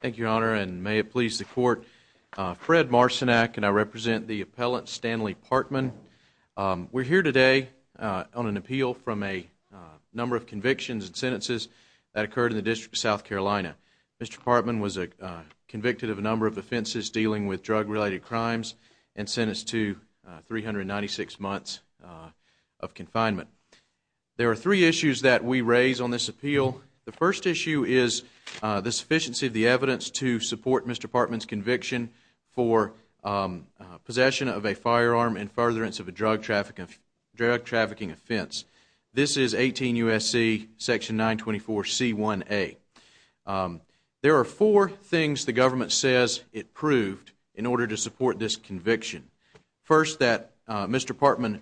Thank you, Your Honor, and may it please the Court, Fred Marcinak and I represent the appellant Stanley Partman. We're here today on an appeal from a number of convictions and sentences that occurred in the District of South Carolina. Mr. Partman was convicted of a number of offenses dealing with drug-related crimes and sentenced to 396 months of confinement. There are three issues that we raise on this appeal. The first issue is the sufficiency of the evidence to support Mr. Partman's conviction for possession of a firearm and furtherance of a drug-trafficking offense. This is 18 U.S.C. section 924c1a. There are four things the government says it proved in order to support this conviction. First that Mr. Partman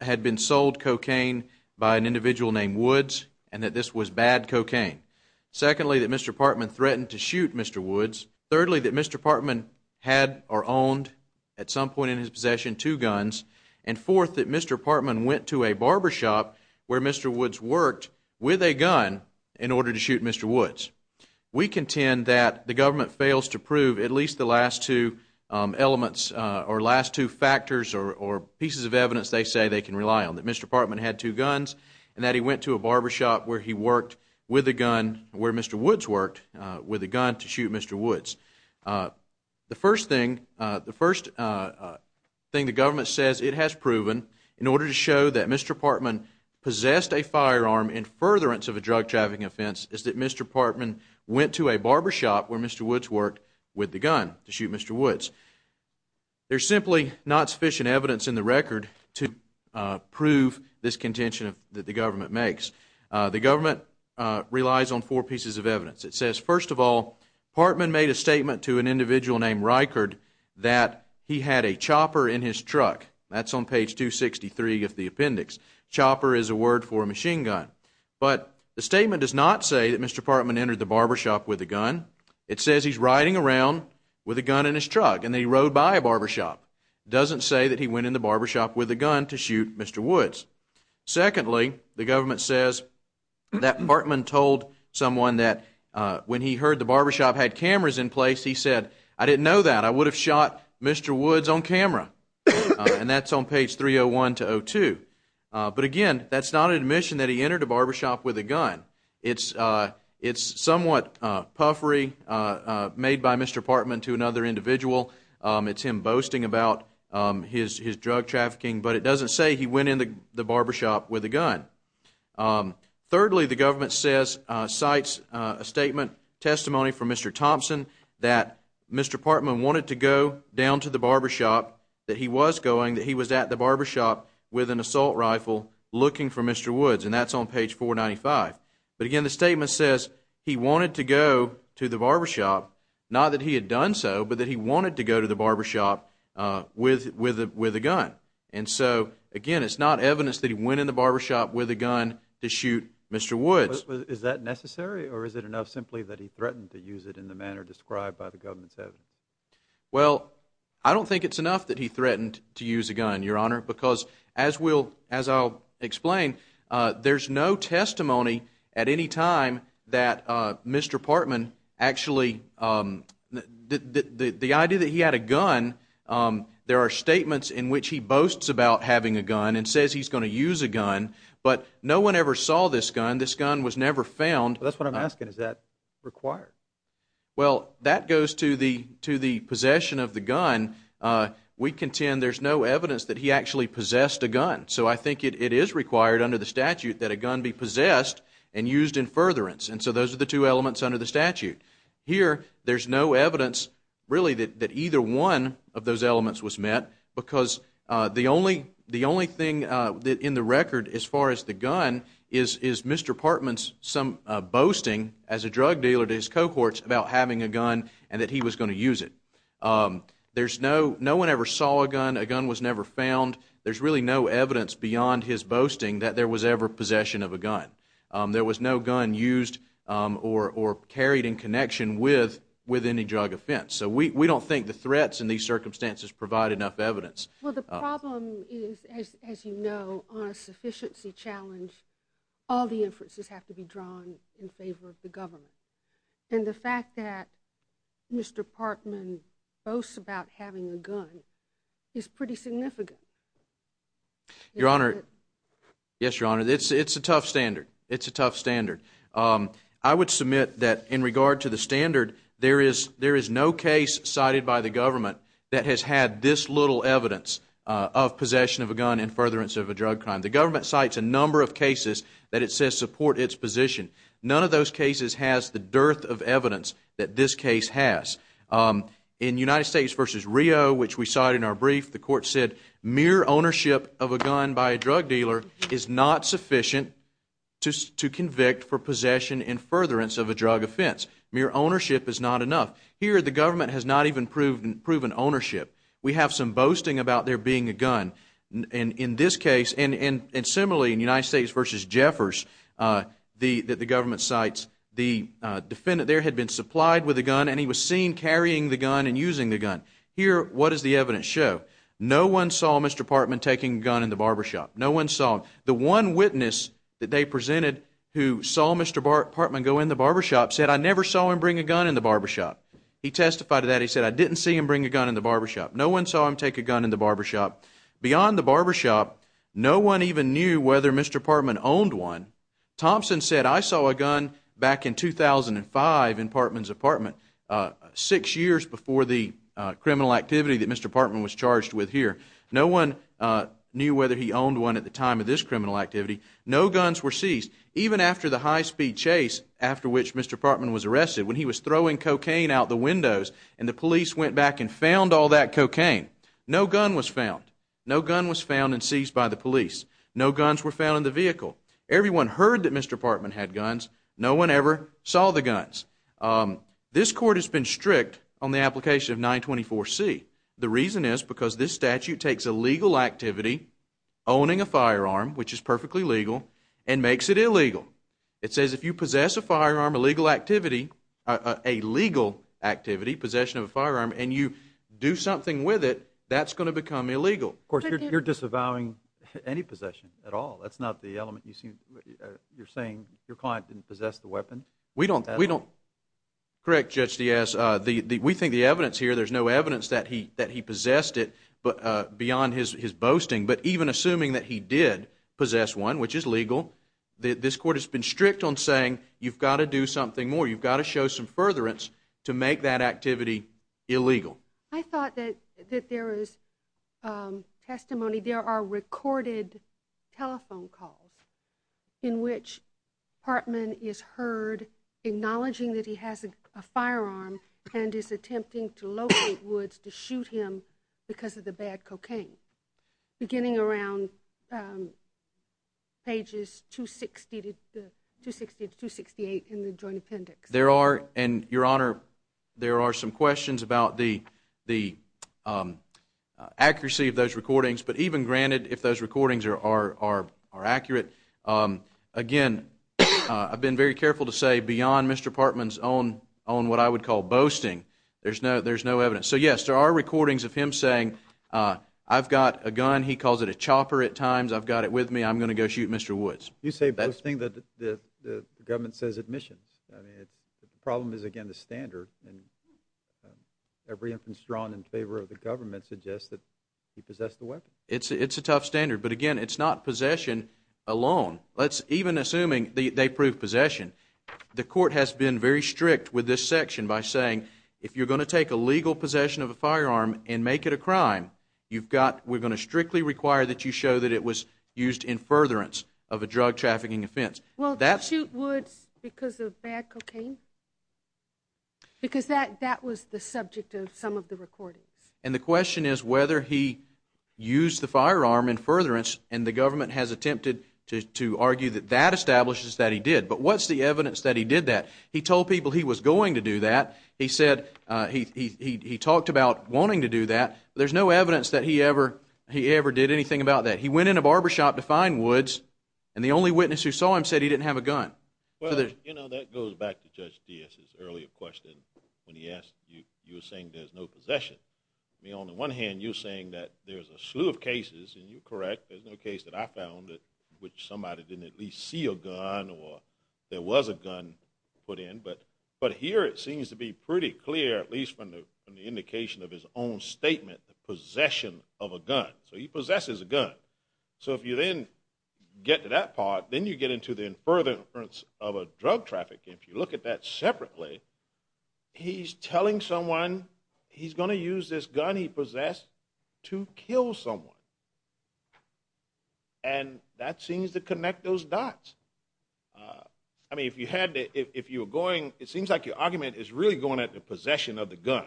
had been sold cocaine by an individual named Woods and that this was bad cocaine. Secondly, that Mr. Partman threatened to shoot Mr. Woods. Thirdly, that Mr. Partman had or owned at some point in his possession two guns. And fourth, that Mr. Partman went to a barbershop where Mr. Woods worked with a gun in order to shoot Mr. Woods. We contend that the government fails to prove at least the last two elements or last two factors or pieces of evidence they say they can rely on. That Mr. Partman had two guns and that he went to a barbershop where he worked with a gun where Mr. Woods worked with a gun to shoot Mr. Woods. The first thing the government says it has proven in order to show that Mr. Partman possessed a firearm in furtherance of a drug-trafficking offense is that Mr. Partman went to a barbershop where Mr. Woods worked with a gun to shoot Mr. Woods. There's simply not sufficient evidence in the record to prove this contention that the government makes. The government relies on four pieces of evidence. It says, first of all, Partman made a statement to an individual named Reichard that he had a chopper in his truck. That's on page 263 of the appendix. Chopper is a word for machine gun. But the statement does not say that Mr. Partman entered the barbershop with a gun. It says he's riding around with a gun in his truck and he rode by a barbershop. Doesn't say that he went in the barbershop with a gun to shoot Mr. Woods. Secondly, the government says that Partman told someone that when he heard the barbershop had cameras in place, he said, I didn't know that. I would have shot Mr. Woods on camera. And that's on page 301 to 302. But again, that's not an admission that he entered a barbershop with a gun. It's somewhat puffery, made by Mr. Partman to another individual. It's him boasting about his drug trafficking. But it doesn't say he went in the barbershop with a gun. Thirdly, the government says, cites a statement, testimony from Mr. Thompson, that Mr. Partman wanted to go down to the barbershop that he was going, that he was at the barbershop with an assault rifle looking for Mr. Woods. And that's on page 495. But again, the statement says he wanted to go to the barbershop, not that he had done so, but that he wanted to go to the barbershop with a gun. And so, again, it's not evidence that he went in the barbershop with a gun to shoot Mr. Woods. Is that necessary, or is it enough simply that he threatened to use it in the manner described by the government's evidence? Well, I don't think it's enough that he threatened to use a gun, Your Honor, because as we'll, as I'll explain, there's no testimony at any time that Mr. Partman actually, the idea that he had a gun, there are statements in which he boasts about having a gun and says he's going to use a gun, but no one ever saw this gun. This gun was never found. That's what I'm asking. Is that required? Well, that goes to the possession of the gun. We contend there's no evidence that he actually possessed a gun. So I think it is required under the statute that a gun be possessed and used in furtherance. And so those are the two elements under the statute. Here, there's no evidence, really, that either one of those elements was met, because the only thing in the record as far as the gun is Mr. Partman's boasting as a drug dealer to his cohorts about having a gun and that he was going to use it. There's no, no one ever saw a gun. A gun was never found. There's really no evidence beyond his boasting that there was ever possession of a gun. There was no gun used or carried in connection with any drug offense. So we don't think the threats in these circumstances provide enough evidence. Well, the problem is, as you know, on a sufficiency challenge, all the inferences have to be drawn in favor of the government. And the fact that Mr. Partman boasts about having a gun is pretty significant. Your Honor. Yes, Your Honor. It's a tough standard. It's a tough standard. I would submit that in regard to the standard, there is no case cited by the government that has had this little evidence of possession of a gun in furtherance of a drug crime. The government cites a number of cases that it says support its position. None of those cases has the dearth of evidence that this case has. In United States v. Rio, which we cited in our brief, the court said mere ownership of sufficient to convict for possession in furtherance of a drug offense. Mere ownership is not enough. Here the government has not even proven ownership. We have some boasting about there being a gun. In this case, and similarly in United States v. Jeffers, that the government cites, the defendant there had been supplied with a gun and he was seen carrying the gun and using the gun. Here, what does the evidence show? No one saw Mr. Partman taking a gun in the barbershop. No one saw him. The one witness that they presented who saw Mr. Partman go in the barbershop said, I never saw him bring a gun in the barbershop. He testified to that. He said, I didn't see him bring a gun in the barbershop. No one saw him take a gun in the barbershop. Beyond the barbershop, no one even knew whether Mr. Partman owned one. Thompson said, I saw a gun back in 2005 in Partman's apartment, six years before the criminal activity that Mr. Partman was charged with here. No one knew whether he owned one at the time of this criminal activity. No guns were seized. Even after the high-speed chase after which Mr. Partman was arrested, when he was throwing cocaine out the windows and the police went back and found all that cocaine, no gun was found. No gun was found and seized by the police. No guns were found in the vehicle. Everyone heard that Mr. Partman had guns. No one ever saw the guns. This court has been strict on the application of 924C. The reason is because this statute takes a legal activity, owning a firearm, which is perfectly legal, and makes it illegal. It says if you possess a firearm, a legal activity, possession of a firearm, and you do something with it, that's going to become illegal. Of course, you're disavowing any possession at all. That's not the element you're saying your client didn't possess the weapon. We don't. We don't. Correct, Judge Diaz. We think the evidence here, there's no evidence that he possessed it beyond his boasting, but even assuming that he did possess one, which is legal, this court has been strict on saying you've got to do something more. You've got to show some furtherance to make that activity illegal. I thought that there is testimony, there are recorded telephone calls in which Partman is heard acknowledging that he has a firearm and is attempting to locate Woods to shoot him because of the bad cocaine, beginning around pages 260 to 268 in the Joint Appendix. There are, and Your Honor, there are some questions about the accuracy of those recordings, but even granted, if those recordings are accurate, again, I've been very careful to say beyond Mr. Partman's own what I would call boasting, there's no evidence. So yes, there are recordings of him saying, I've got a gun, he calls it a chopper at times, I've got it with me, I'm going to go shoot Mr. Woods. You say boasting, the government says admissions. I mean, the problem is, again, the standard. Every inference drawn in favor of the government suggests that he possessed the weapon. It's a tough standard, but again, it's not possession alone. Let's even, assuming they prove possession, the court has been very strict with this section by saying if you're going to take a legal possession of a firearm and make it a crime, we're going to strictly require that you show that it was used in furtherance of a drug trafficking offense. Well, to shoot Woods because of bad cocaine? Because that was the subject of some of the recordings. And the question is whether he used the firearm in furtherance, and the government has attempted to argue that that establishes that he did. But what's the evidence that he did that? He told people he was going to do that. He said, he talked about wanting to do that. There's no evidence that he ever did anything about that. He went in a barbershop to find Woods, and the only witness who saw him said he didn't have a gun. Well, you know, that goes back to Judge Diaz's earlier question when he asked, you were saying there's no possession. I mean, on the one hand, you're saying that there's a slew of cases, and you're correct, there's no case that I found in which somebody didn't at least see a gun or there was a gun put in. But here, it seems to be pretty clear, at least from the indication of his own statement, the possession of a gun. So he possesses a gun. So if you then get to that part, then you get into the furtherance of a drug traffic. If you look at that separately, he's telling someone he's going to use this gun he possessed to kill someone. And that seems to connect those dots. I mean, if you had to, if you were going, it seems like your argument is really going at the possession of the gun.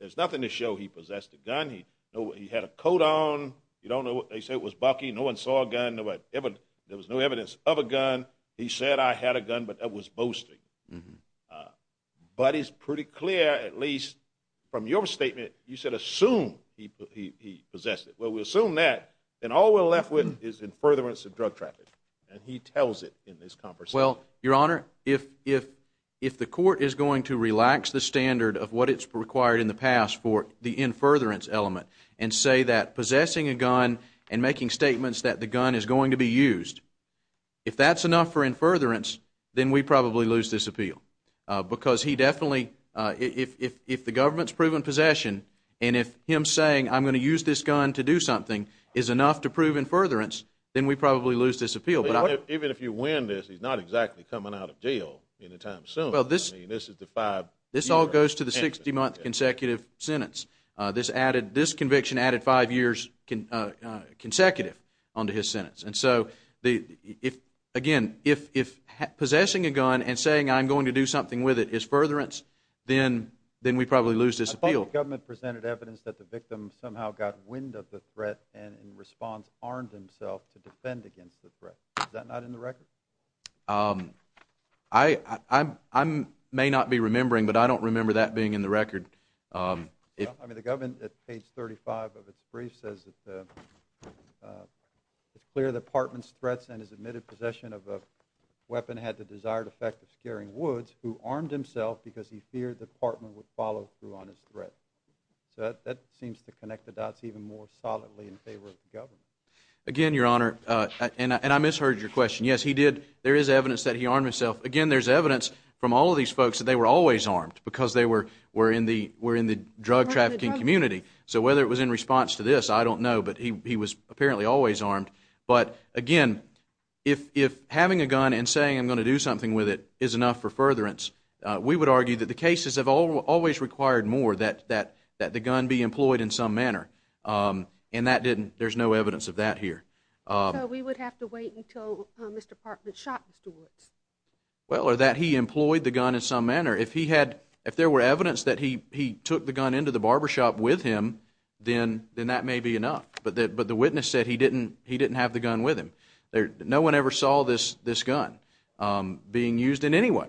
There's nothing to show he possessed a gun. He had a coat on. You don't know what they say. It was bucky. No one saw a gun. There was no evidence of a gun. He said, I had a gun, but that was boasting. But it's pretty clear, at least from your statement, you said assume he possessed it. Well, we assume that. And all we're left with is in furtherance of drug traffic. And he tells it in this conversation. Well, Your Honor, if the court is going to relax the standard of what it's required in the past for the in furtherance element and say that possessing a gun and making statements that the gun is going to be used, if that's enough for in furtherance, then we probably lose this appeal. Because he definitely, if the government's proven possession, and if him saying I'm going to use this gun to do something is enough to prove in furtherance, then we probably lose this appeal. But even if you win this, he's not exactly coming out of jail anytime soon. I mean, this is the five years. This all goes to the 60-month consecutive sentence. This added, this conviction added five years consecutive onto his sentence. And so, again, if possessing a gun and saying I'm going to do something with it is furtherance, then we probably lose this appeal. I thought the government presented evidence that the victim somehow got wind of the threat and in response armed himself to defend against the threat. Is that not in the record? I may not be remembering, but I don't remember that being in the record. I mean, the government at page 35 of its brief says that it's clear that Partman's threats and his admitted possession of a weapon had the desired effect of scaring Woods, who armed himself because he feared that Partman would follow through on his threat. So that seems to connect the dots even more solidly in favor of the government. Again, Your Honor, and I misheard your question. Yes, he did. There is evidence that he armed himself. Again, there's evidence from all of these folks that they were always armed because they were in the drug trafficking community. So whether it was in response to this, I don't know, but he was apparently always armed. But again, if having a gun and saying I'm going to do something with it is enough for furtherance, we would argue that the cases have always required more that the gun be employed in some manner. And that didn't. There's no evidence of that here. So we would have to wait until Mr. Partman shot Mr. Woods? Well, or that he employed the gun in some manner. If he had, if there were evidence that he took the gun into the barbershop with him, then that may be enough. But the witness said he didn't have the gun with him. No one ever saw this gun being used in any way.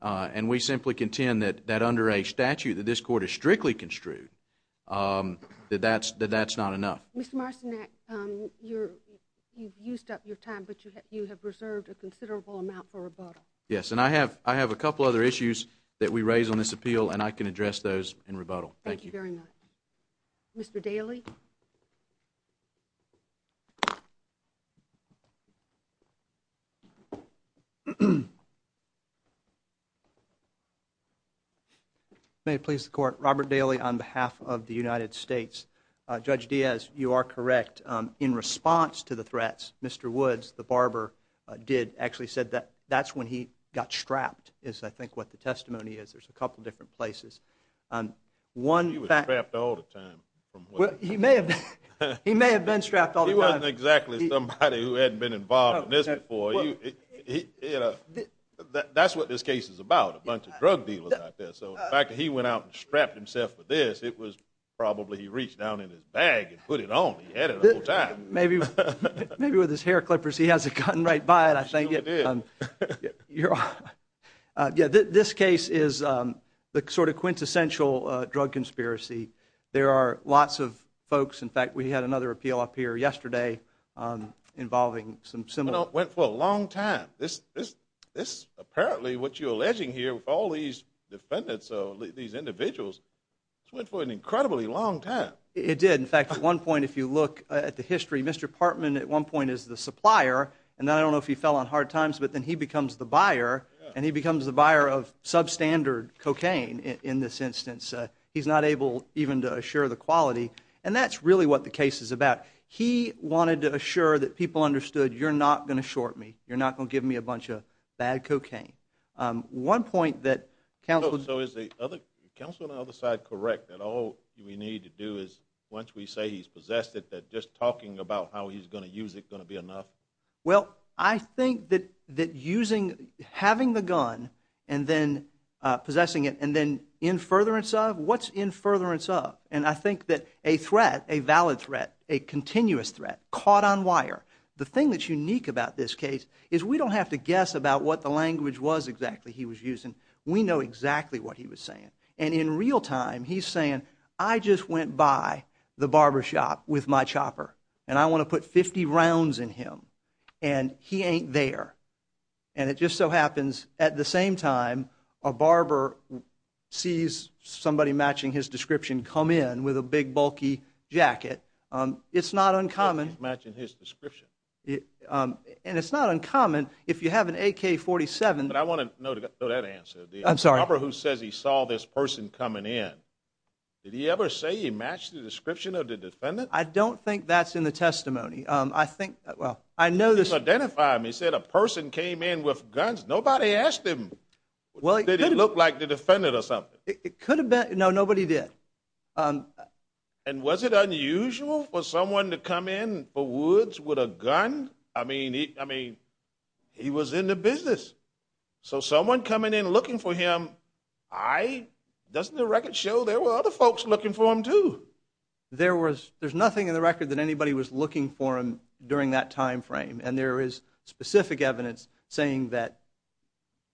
And we simply contend that under a statute that this Court has strictly construed, that that's not enough. Mr. Marcinek, you've used up your time, but you have reserved a considerable amount for rebuttal. Yes, and I have a couple other issues that we raise on this appeal, and I can address those in rebuttal. Thank you. Thank you very much. Mr. Daly? If I may please the Court, Robert Daly on behalf of the United States. Judge Diaz, you are correct. In response to the threats, Mr. Woods, the barber, did actually said that that's when he got strapped, is I think what the testimony is. There's a couple different places. One fact... He was strapped all the time. Well, he may have been strapped all the time. He wasn't exactly somebody who hadn't been involved in this before. That's what this case is about, a bunch of drug dealers out there. So, the fact that he went out and strapped himself with this, it was probably he reached down in his bag and put it on, he had it the whole time. Maybe with his hair clippers, he has a gun right by it, I think. This case is the sort of quintessential drug conspiracy. There are lots of folks, in fact, we had another appeal up here yesterday involving some similar... It went for a long time. This, apparently, what you're alleging here with all these defendants, these individuals, this went for an incredibly long time. It did. In fact, at one point, if you look at the history, Mr. Partman at one point is the supplier, and I don't know if he fell on hard times, but then he becomes the buyer, and he becomes the buyer of substandard cocaine in this instance. He's not able even to assure the quality, and that's really what the case is about. He wanted to assure that people understood, you're not going to short me. You're not going to give me a bunch of bad cocaine. One point that counsel... So is the counsel on the other side correct that all we need to do is, once we say he's possessed it, that just talking about how he's going to use it going to be enough? Well, I think that using, having the gun, and then possessing it, and then in furtherance of, what's in furtherance of? I think that a threat, a valid threat, a continuous threat, caught on wire, the thing that's unique about this case is we don't have to guess about what the language was exactly he was using. We know exactly what he was saying, and in real time, he's saying, I just went by the barbershop with my chopper, and I want to put 50 rounds in him, and he ain't there, and it just so happens, at the same time, a barber sees somebody matching his description come in with a big bulky jacket. It's not uncommon. He's matching his description. And it's not uncommon. If you have an AK-47... But I want to know that answer. I'm sorry. The barber who says he saw this person coming in, did he ever say he matched the description of the defendant? I don't think that's in the testimony. I think... Well, I know this... He's identified him. He said a person came in with guns. Nobody asked him. Well, he could have. Did he look like the defendant or something? It could have been. No, nobody did. And was it unusual for someone to come in for Woods with a gun? I mean, he was in the business. So someone coming in looking for him, doesn't the record show there were other folks looking for him, too? There was... There's nothing in the record that anybody was looking for him during that time frame, and there is specific evidence saying that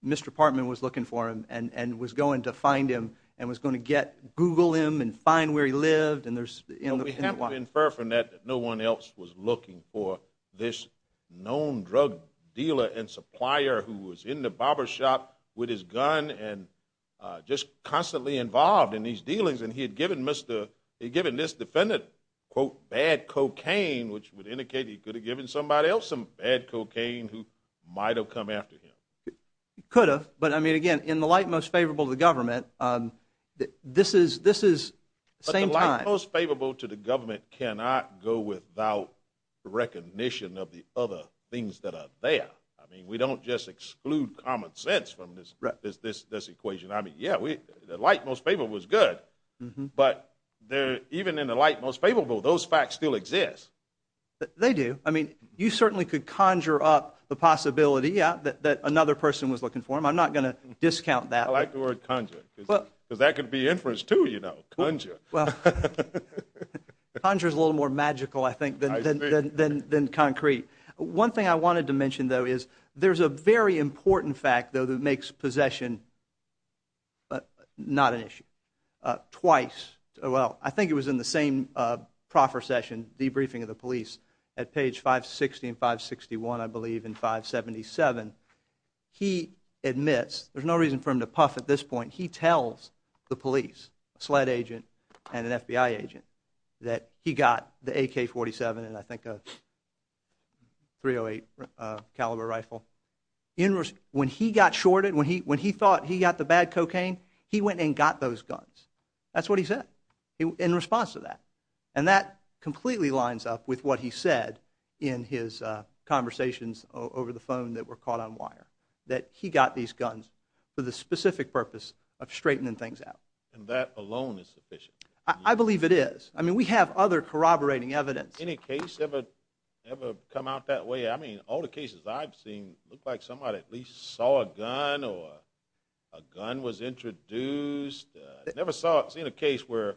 Mr. Partman was looking for him and was going to find him and was going to Google him and find where he lived, and there's... Well, we have to infer from that that no one else was looking for this known drug dealer and supplier who was in the barber shop with his gun and just constantly involved in these dealings, and he had given this defendant, quote, bad cocaine, which would indicate he could have given somebody else some bad cocaine who might have come after him. He could have. But, I mean, again, in the light most favorable to the government, this is the same time... But the light most favorable to the government cannot go without recognition of the other things that are there. I mean, we don't just exclude common sense from this equation. I mean, yeah, the light most favorable is good, but even in the light most favorable, those facts still exist. They do. I mean, you certainly could conjure up the possibility, yeah, that another person was looking for him. I'm not going to discount that. I like the word conjure, because that could be inference, too, you know, conjure. Well, conjure is a little more magical, I think, than concrete. One thing I wanted to mention, though, is there's a very important fact, though, that makes possession not an issue. Twice, well, I think it was in the same proffer session, debriefing of the police, at page 560 and 561, I believe, in 577, he admits, there's no reason for him to puff at this point, he tells the police, a SLED agent and an FBI agent, that he got the AK-47 and I think a .308 caliber rifle. When he got shorted, when he thought he got the bad cocaine, he went and got those guns. That's what he said in response to that. And that completely lines up with what he said in his conversations over the phone that were caught on wire, that he got these guns for the specific purpose of straightening things out. And that alone is sufficient. I believe it is. I mean, we have other corroborating evidence. Any case ever come out that way? I mean, all the cases I've seen look like somebody at least saw a gun or a gun was introduced. I've never seen a case where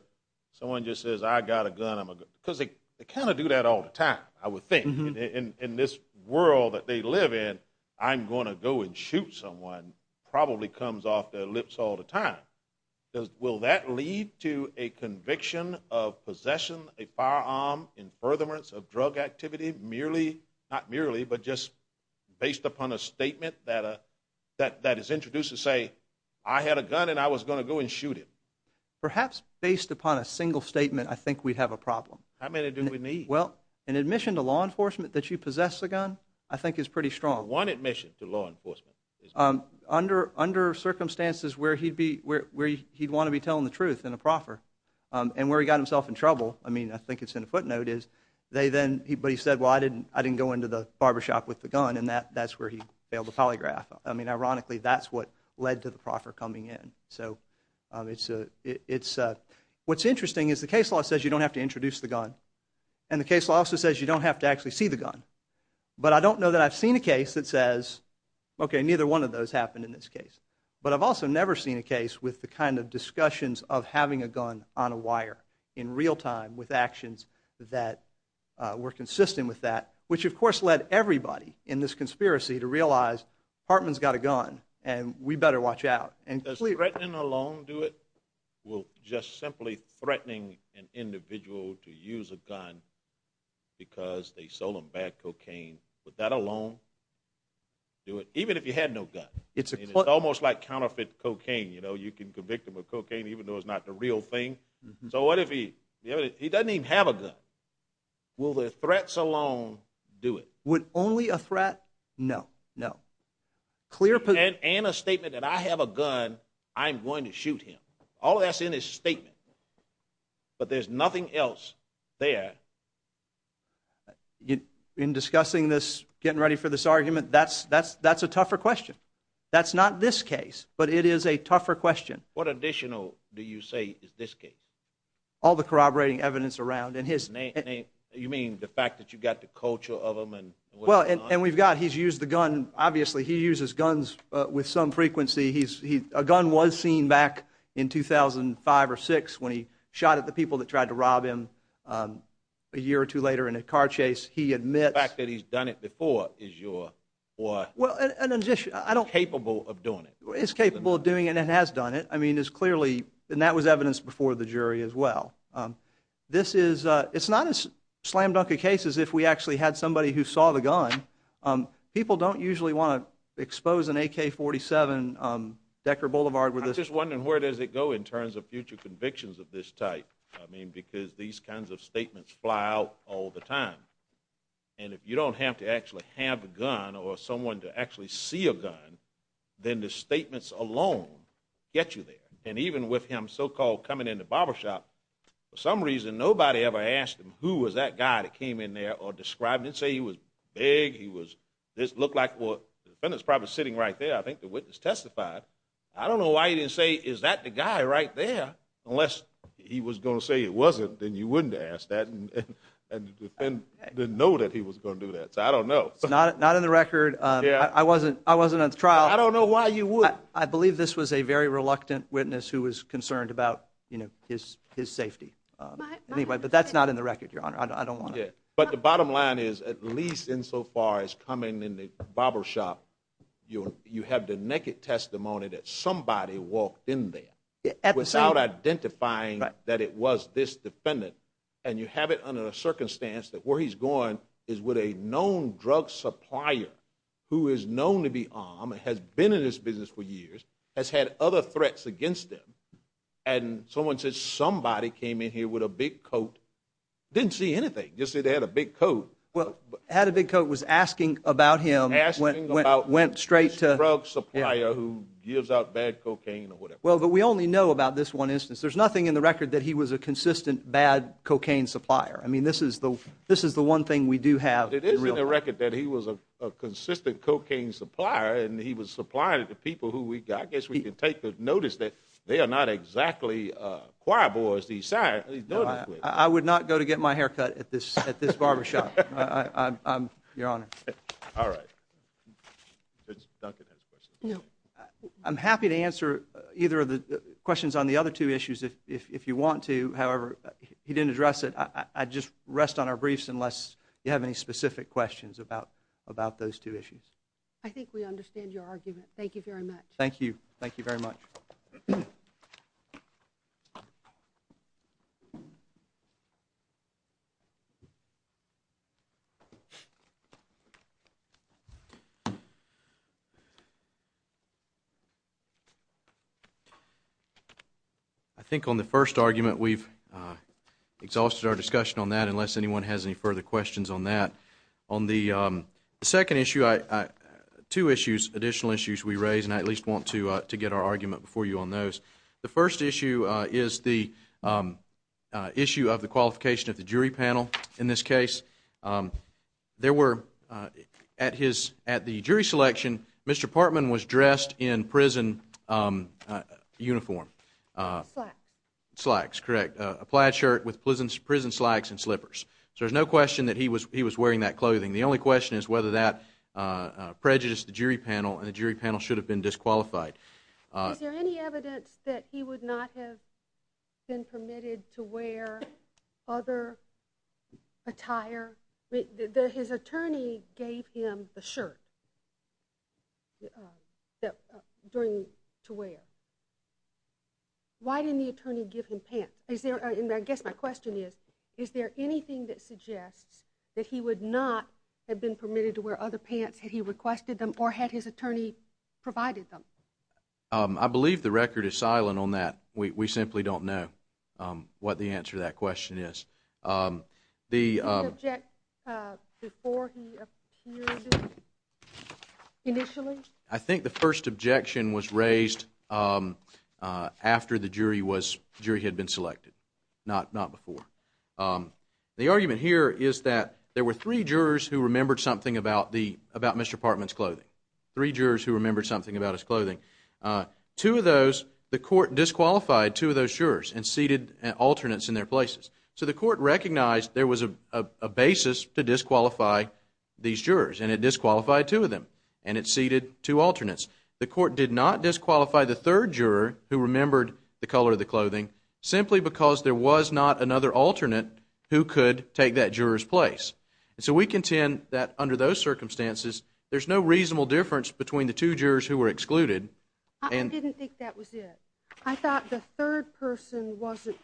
someone just says, I got a gun, because they kind of do that all the time, I would think. In this world that they live in, I'm going to go and shoot someone, probably comes off their lips all the time. Will that lead to a conviction of possession, a firearm, in furtherance of drug activity, merely, not merely, but just based upon a statement that is introduced to say, I had a gun and I was going to go and shoot him. Perhaps based upon a single statement, I think we'd have a problem. How many do we need? Well, an admission to law enforcement that you possess a gun, I think is pretty strong. One admission to law enforcement. Under circumstances where he'd want to be telling the truth in a proffer, and where he got himself in trouble, I mean, I think it's in a footnote, is they then, but he said, well, I didn't go into the barber shop with the gun, and that's where he failed to polygraph. I mean, ironically, that's what led to the proffer coming in. So it's a, what's interesting is the case law says you don't have to introduce the gun. And the case law also says you don't have to actually see the gun. But I don't know that I've seen a case that says, okay, neither one of those happened in this case. But I've also never seen a case with the kind of discussions of having a gun on a wire in real time with actions that were consistent with that, which of course led everybody in this conspiracy to realize Hartman's got a gun, and we better watch out. Does threatening alone do it? Will just simply threatening an individual to use a gun because they sold him bad cocaine, would that alone do it? Even if he had no gun. It's almost like counterfeit cocaine, you know? You can convict him of cocaine even though it's not the real thing. So what if he doesn't even have a gun? Will the threats alone do it? Would only a threat, no, no. And a statement that I have a gun, I'm going to shoot him. All that's in his statement. But there's nothing else there. In discussing this, getting ready for this argument, that's a tougher question. That's not this case. But it is a tougher question. What additional do you say is this case? All the corroborating evidence around and his name. You mean the fact that you've got the culture of him? And we've got, he's used the gun, obviously he uses guns with some frequency. A gun was seen back in 2005 or 6 when he shot at the people that tried to rob him a year or two later in a car chase. He admits. The fact that he's done it before is your, is capable of doing it. Is capable of doing it and has done it. I mean it's clearly, and that was evidence before the jury as well. This is, it's not as slam dunk a case as if we actually had somebody who saw the gun. People don't usually want to expose an AK-47 Decker Boulevard with this. I'm just wondering where does it go in terms of future convictions of this type? I mean because these kinds of statements fly out all the time. And if you don't have to actually have a gun or someone to actually see a gun, then the statements alone get you there. And even with him so-called coming into barbershop, for some reason nobody ever asked him who was that guy that came in there or described, didn't say he was big, he was, this looked like, well the defendant's probably sitting right there, I think the witness testified. I don't know why he didn't say is that the guy right there, unless he was going to say it wasn't, then you wouldn't have asked that and the defendant didn't know that he was going to do that. So I don't know. Not in the record. I wasn't, I wasn't at the trial. I don't know why you would. I believe this was a very reluctant witness who was concerned about, you know, his safety. Anyway, but that's not in the record, Your Honor. I don't want to. But the bottom line is, at least insofar as coming in the barbershop, you have the naked testimony that somebody walked in there without identifying that it was this defendant. And you have it under the circumstance that where he's going is with a known drug supplier who is known to be armed, has been in this business for years, has had other threats against him, and someone says somebody came in here with a big coat, didn't see anything, just said they had a big coat. Well, had a big coat, was asking about him, went straight to. Asking about this drug supplier who gives out bad cocaine or whatever. Well, but we only know about this one instance. There's nothing in the record that he was a consistent bad cocaine supplier. I mean, this is the, this is the one thing we do have. But it is in the record that he was a consistent cocaine supplier, and he was supplying it to people who we, I guess we can take the notice that they are not exactly choir boys these signs, these notice boards. I would not go to get my hair cut at this barbershop, Your Honor. All right. Duncan has a question. I'm happy to answer either of the questions on the other two issues if you want to. However, he didn't address it, I'd just rest on our briefs unless you have any specific questions about those two issues. I think we understand your argument. Thank you very much. Thank you. Thank you very much. I think on the first argument we've exhausted our discussion on that, unless anyone has any further questions on that. On the second issue, two issues, additional issues we raised, and I at least want to get our argument before you on those. The first issue is the issue of the qualification of the jury panel in this case. There were, at the jury selection, Mr. Partman was dressed in prison uniform. Slacks. Correct. A plaid shirt with prison slacks and slippers. So there's no question that he was wearing that clothing. The only question is whether that prejudiced the jury panel, and the jury panel should have been disqualified. Is there any evidence that he would not have been permitted to wear other attire? His attorney gave him the shirt to wear. Why didn't the attorney give him pants? I guess my question is, is there anything that suggests that he would not have been I believe the record is silent on that. We simply don't know what the answer to that question is. The I think the first objection was raised after the jury had been selected, not before. The argument here is that there were three jurors who remembered something about Mr. Partman's clothing. Three jurors who remembered something about his clothing. Two of those, the court disqualified two of those jurors and seated alternates in their places. So the court recognized there was a basis to disqualify these jurors, and it disqualified two of them, and it seated two alternates. The court did not disqualify the third juror who remembered the color of the clothing simply because there was not another alternate who could take that juror's place. And so we contend that under those circumstances, there's no reasonable difference between the two jurors who were excluded. I didn't think that was it. I thought the third person wasn't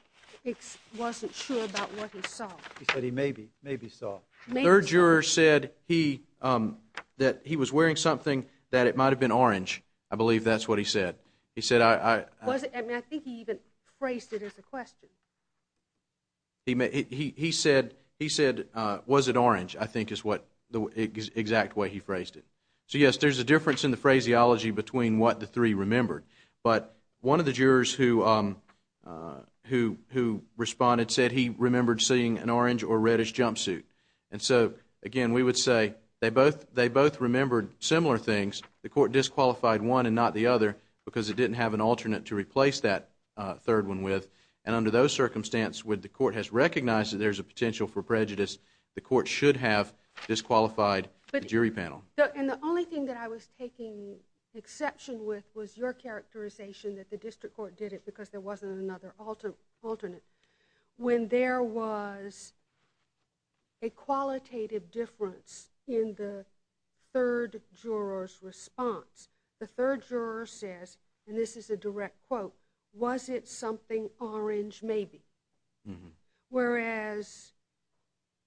wasn't sure about what he saw. He said he maybe, maybe saw. Third juror said he that he was wearing something that it might have been orange. I believe that's what he said. He said I wasn't. I mean, I think he even phrased it as a question. He said, he said, was it orange? I think is what the exact way he phrased it. So, yes, there's a difference in the phraseology between what the three remembered. But one of the jurors who responded said he remembered seeing an orange or reddish jumpsuit. And so, again, we would say they both remembered similar things. The court disqualified one and not the other because it didn't have an alternate to replace that third one with. And under those circumstances, when the court has recognized that there's a potential for prejudice, the court should have disqualified the jury panel. And the only thing that I was taking exception with was your characterization that the district court did it because there wasn't another alternate. When there was a qualitative difference in the third juror's response, the third juror says, and this is a direct quote, was it something orange maybe? Whereas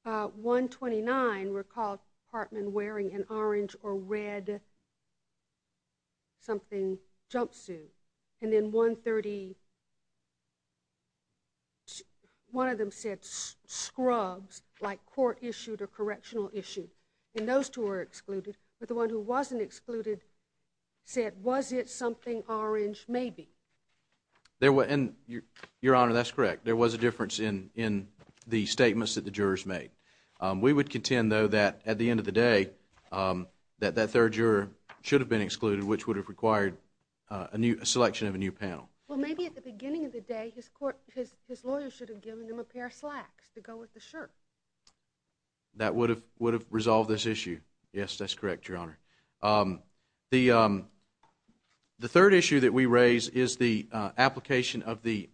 129 recalled Hartman wearing an orange or red something jumpsuit. And then 130, one of them said scrubs like court issued or correctional issued. And those two were excluded. But the one who wasn't excluded said, was it something orange maybe? Your Honor, that's correct. There was a difference in the statements that the jurors made. We would contend, though, that at the end of the day, that that third juror should have been excluded, which would have required a selection of a new panel. Well, maybe at the beginning of the day, his lawyer should have given him a pair of slacks to go with the shirt. That would have resolved this issue. Yes, that's correct, Your Honor. The third issue that we raise is the application of the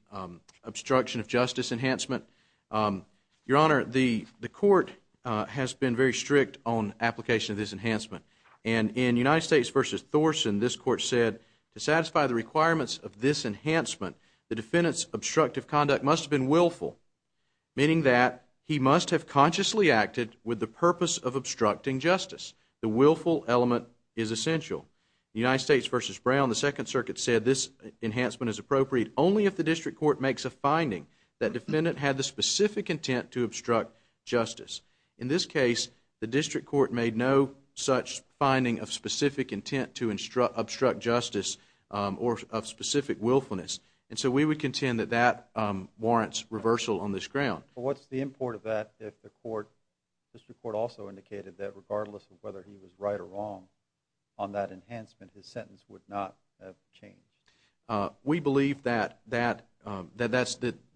obstruction of justice enhancement. Your Honor, the court has been very strict on application of this enhancement. And in United States v. Thorson, this court said, to satisfy the requirements of this enhancement, the defendant's obstructive conduct must have been willful, meaning that he must have consciously acted with the purpose of obstructing justice. The willful element is essential. In United States v. Brown, the Second Circuit said this enhancement is appropriate only if the district court makes a finding that defendant had the specific intent to obstruct justice. In this case, the district court made no such finding of specific intent to obstruct justice or of specific willfulness. And so we would contend that that warrants reversal on this ground. But what's the import of that if the district court also indicated that regardless of whether he was right or wrong on that enhancement, his sentence would not have changed? We believe that the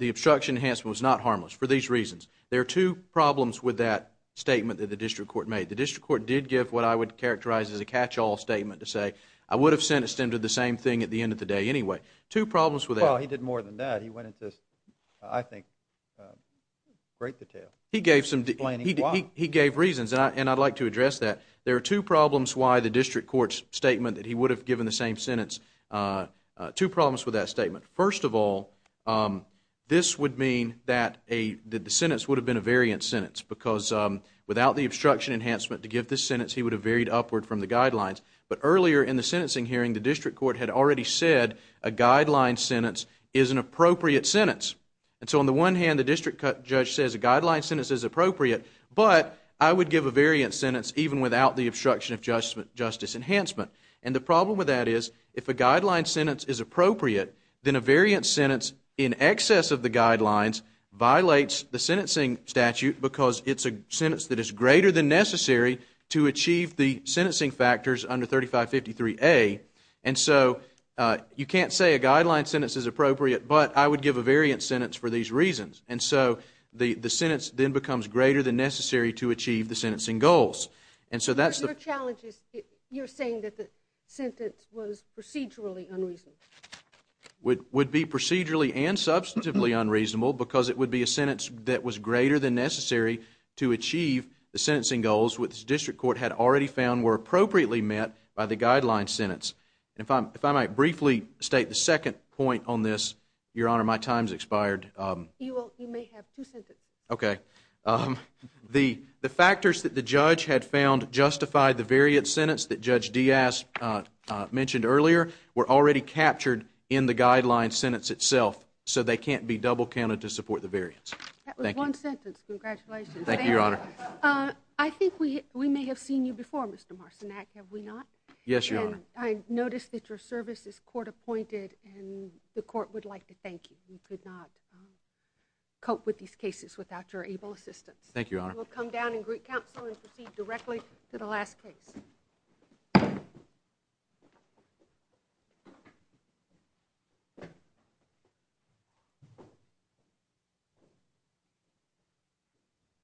obstruction enhancement was not harmless for these reasons. There are two problems with that statement that the district court made. The district court did give what I would characterize as a catch-all statement to say, I would have sentenced him to the same thing at the end of the day anyway. Two problems with that. Well, he did more than that. He went into, I think, great detail explaining why. He gave reasons. And I'd like to address that. There are two problems why the district court's statement that he would have given the same sentence, two problems with that statement. First of all, this would mean that the sentence would have been a variant sentence. Because without the obstruction enhancement to give this sentence, he would have varied upward from the guidelines. But earlier in the sentencing hearing, the district court had already said a guideline sentence is an appropriate sentence. And so on the one hand, the district judge says a guideline sentence is appropriate, but I would give a variant sentence even without the obstruction of justice enhancement. And the problem with that is, if a guideline sentence is appropriate, then a variant sentence in excess of the guidelines violates the sentencing statute because it's a sentence that is greater than necessary to achieve the sentencing factors under 3553A. And so you can't say a guideline sentence is appropriate, but I would give a variant sentence for these reasons. And so the sentence then becomes greater than necessary to achieve the sentencing goals. And so that's the... Your challenge is you're saying that the sentence was procedurally unreasonable. Would be procedurally and substantively unreasonable because it would be a sentence that was greater than necessary to achieve the sentencing goals which the district court had already found were appropriately met by the guideline sentence. And if I might briefly state the second point on this, Your Honor, my time's expired. You may have two sentences. Okay. The factors that the judge had found justified the variant sentence that Judge Diaz mentioned earlier were already captured in the guideline sentence itself, so they can't be double counted to support the variance. That was one sentence. Congratulations. Thank you, Your Honor. I think we may have seen you before, Mr. Marcinak, have we not? Yes, Your Honor. And I noticed that your service is court-appointed and the court would like to thank you. We could not cope with these cases without your able assistance. Thank you, Your Honor. We'll come down and greet counsel and proceed directly to the last case.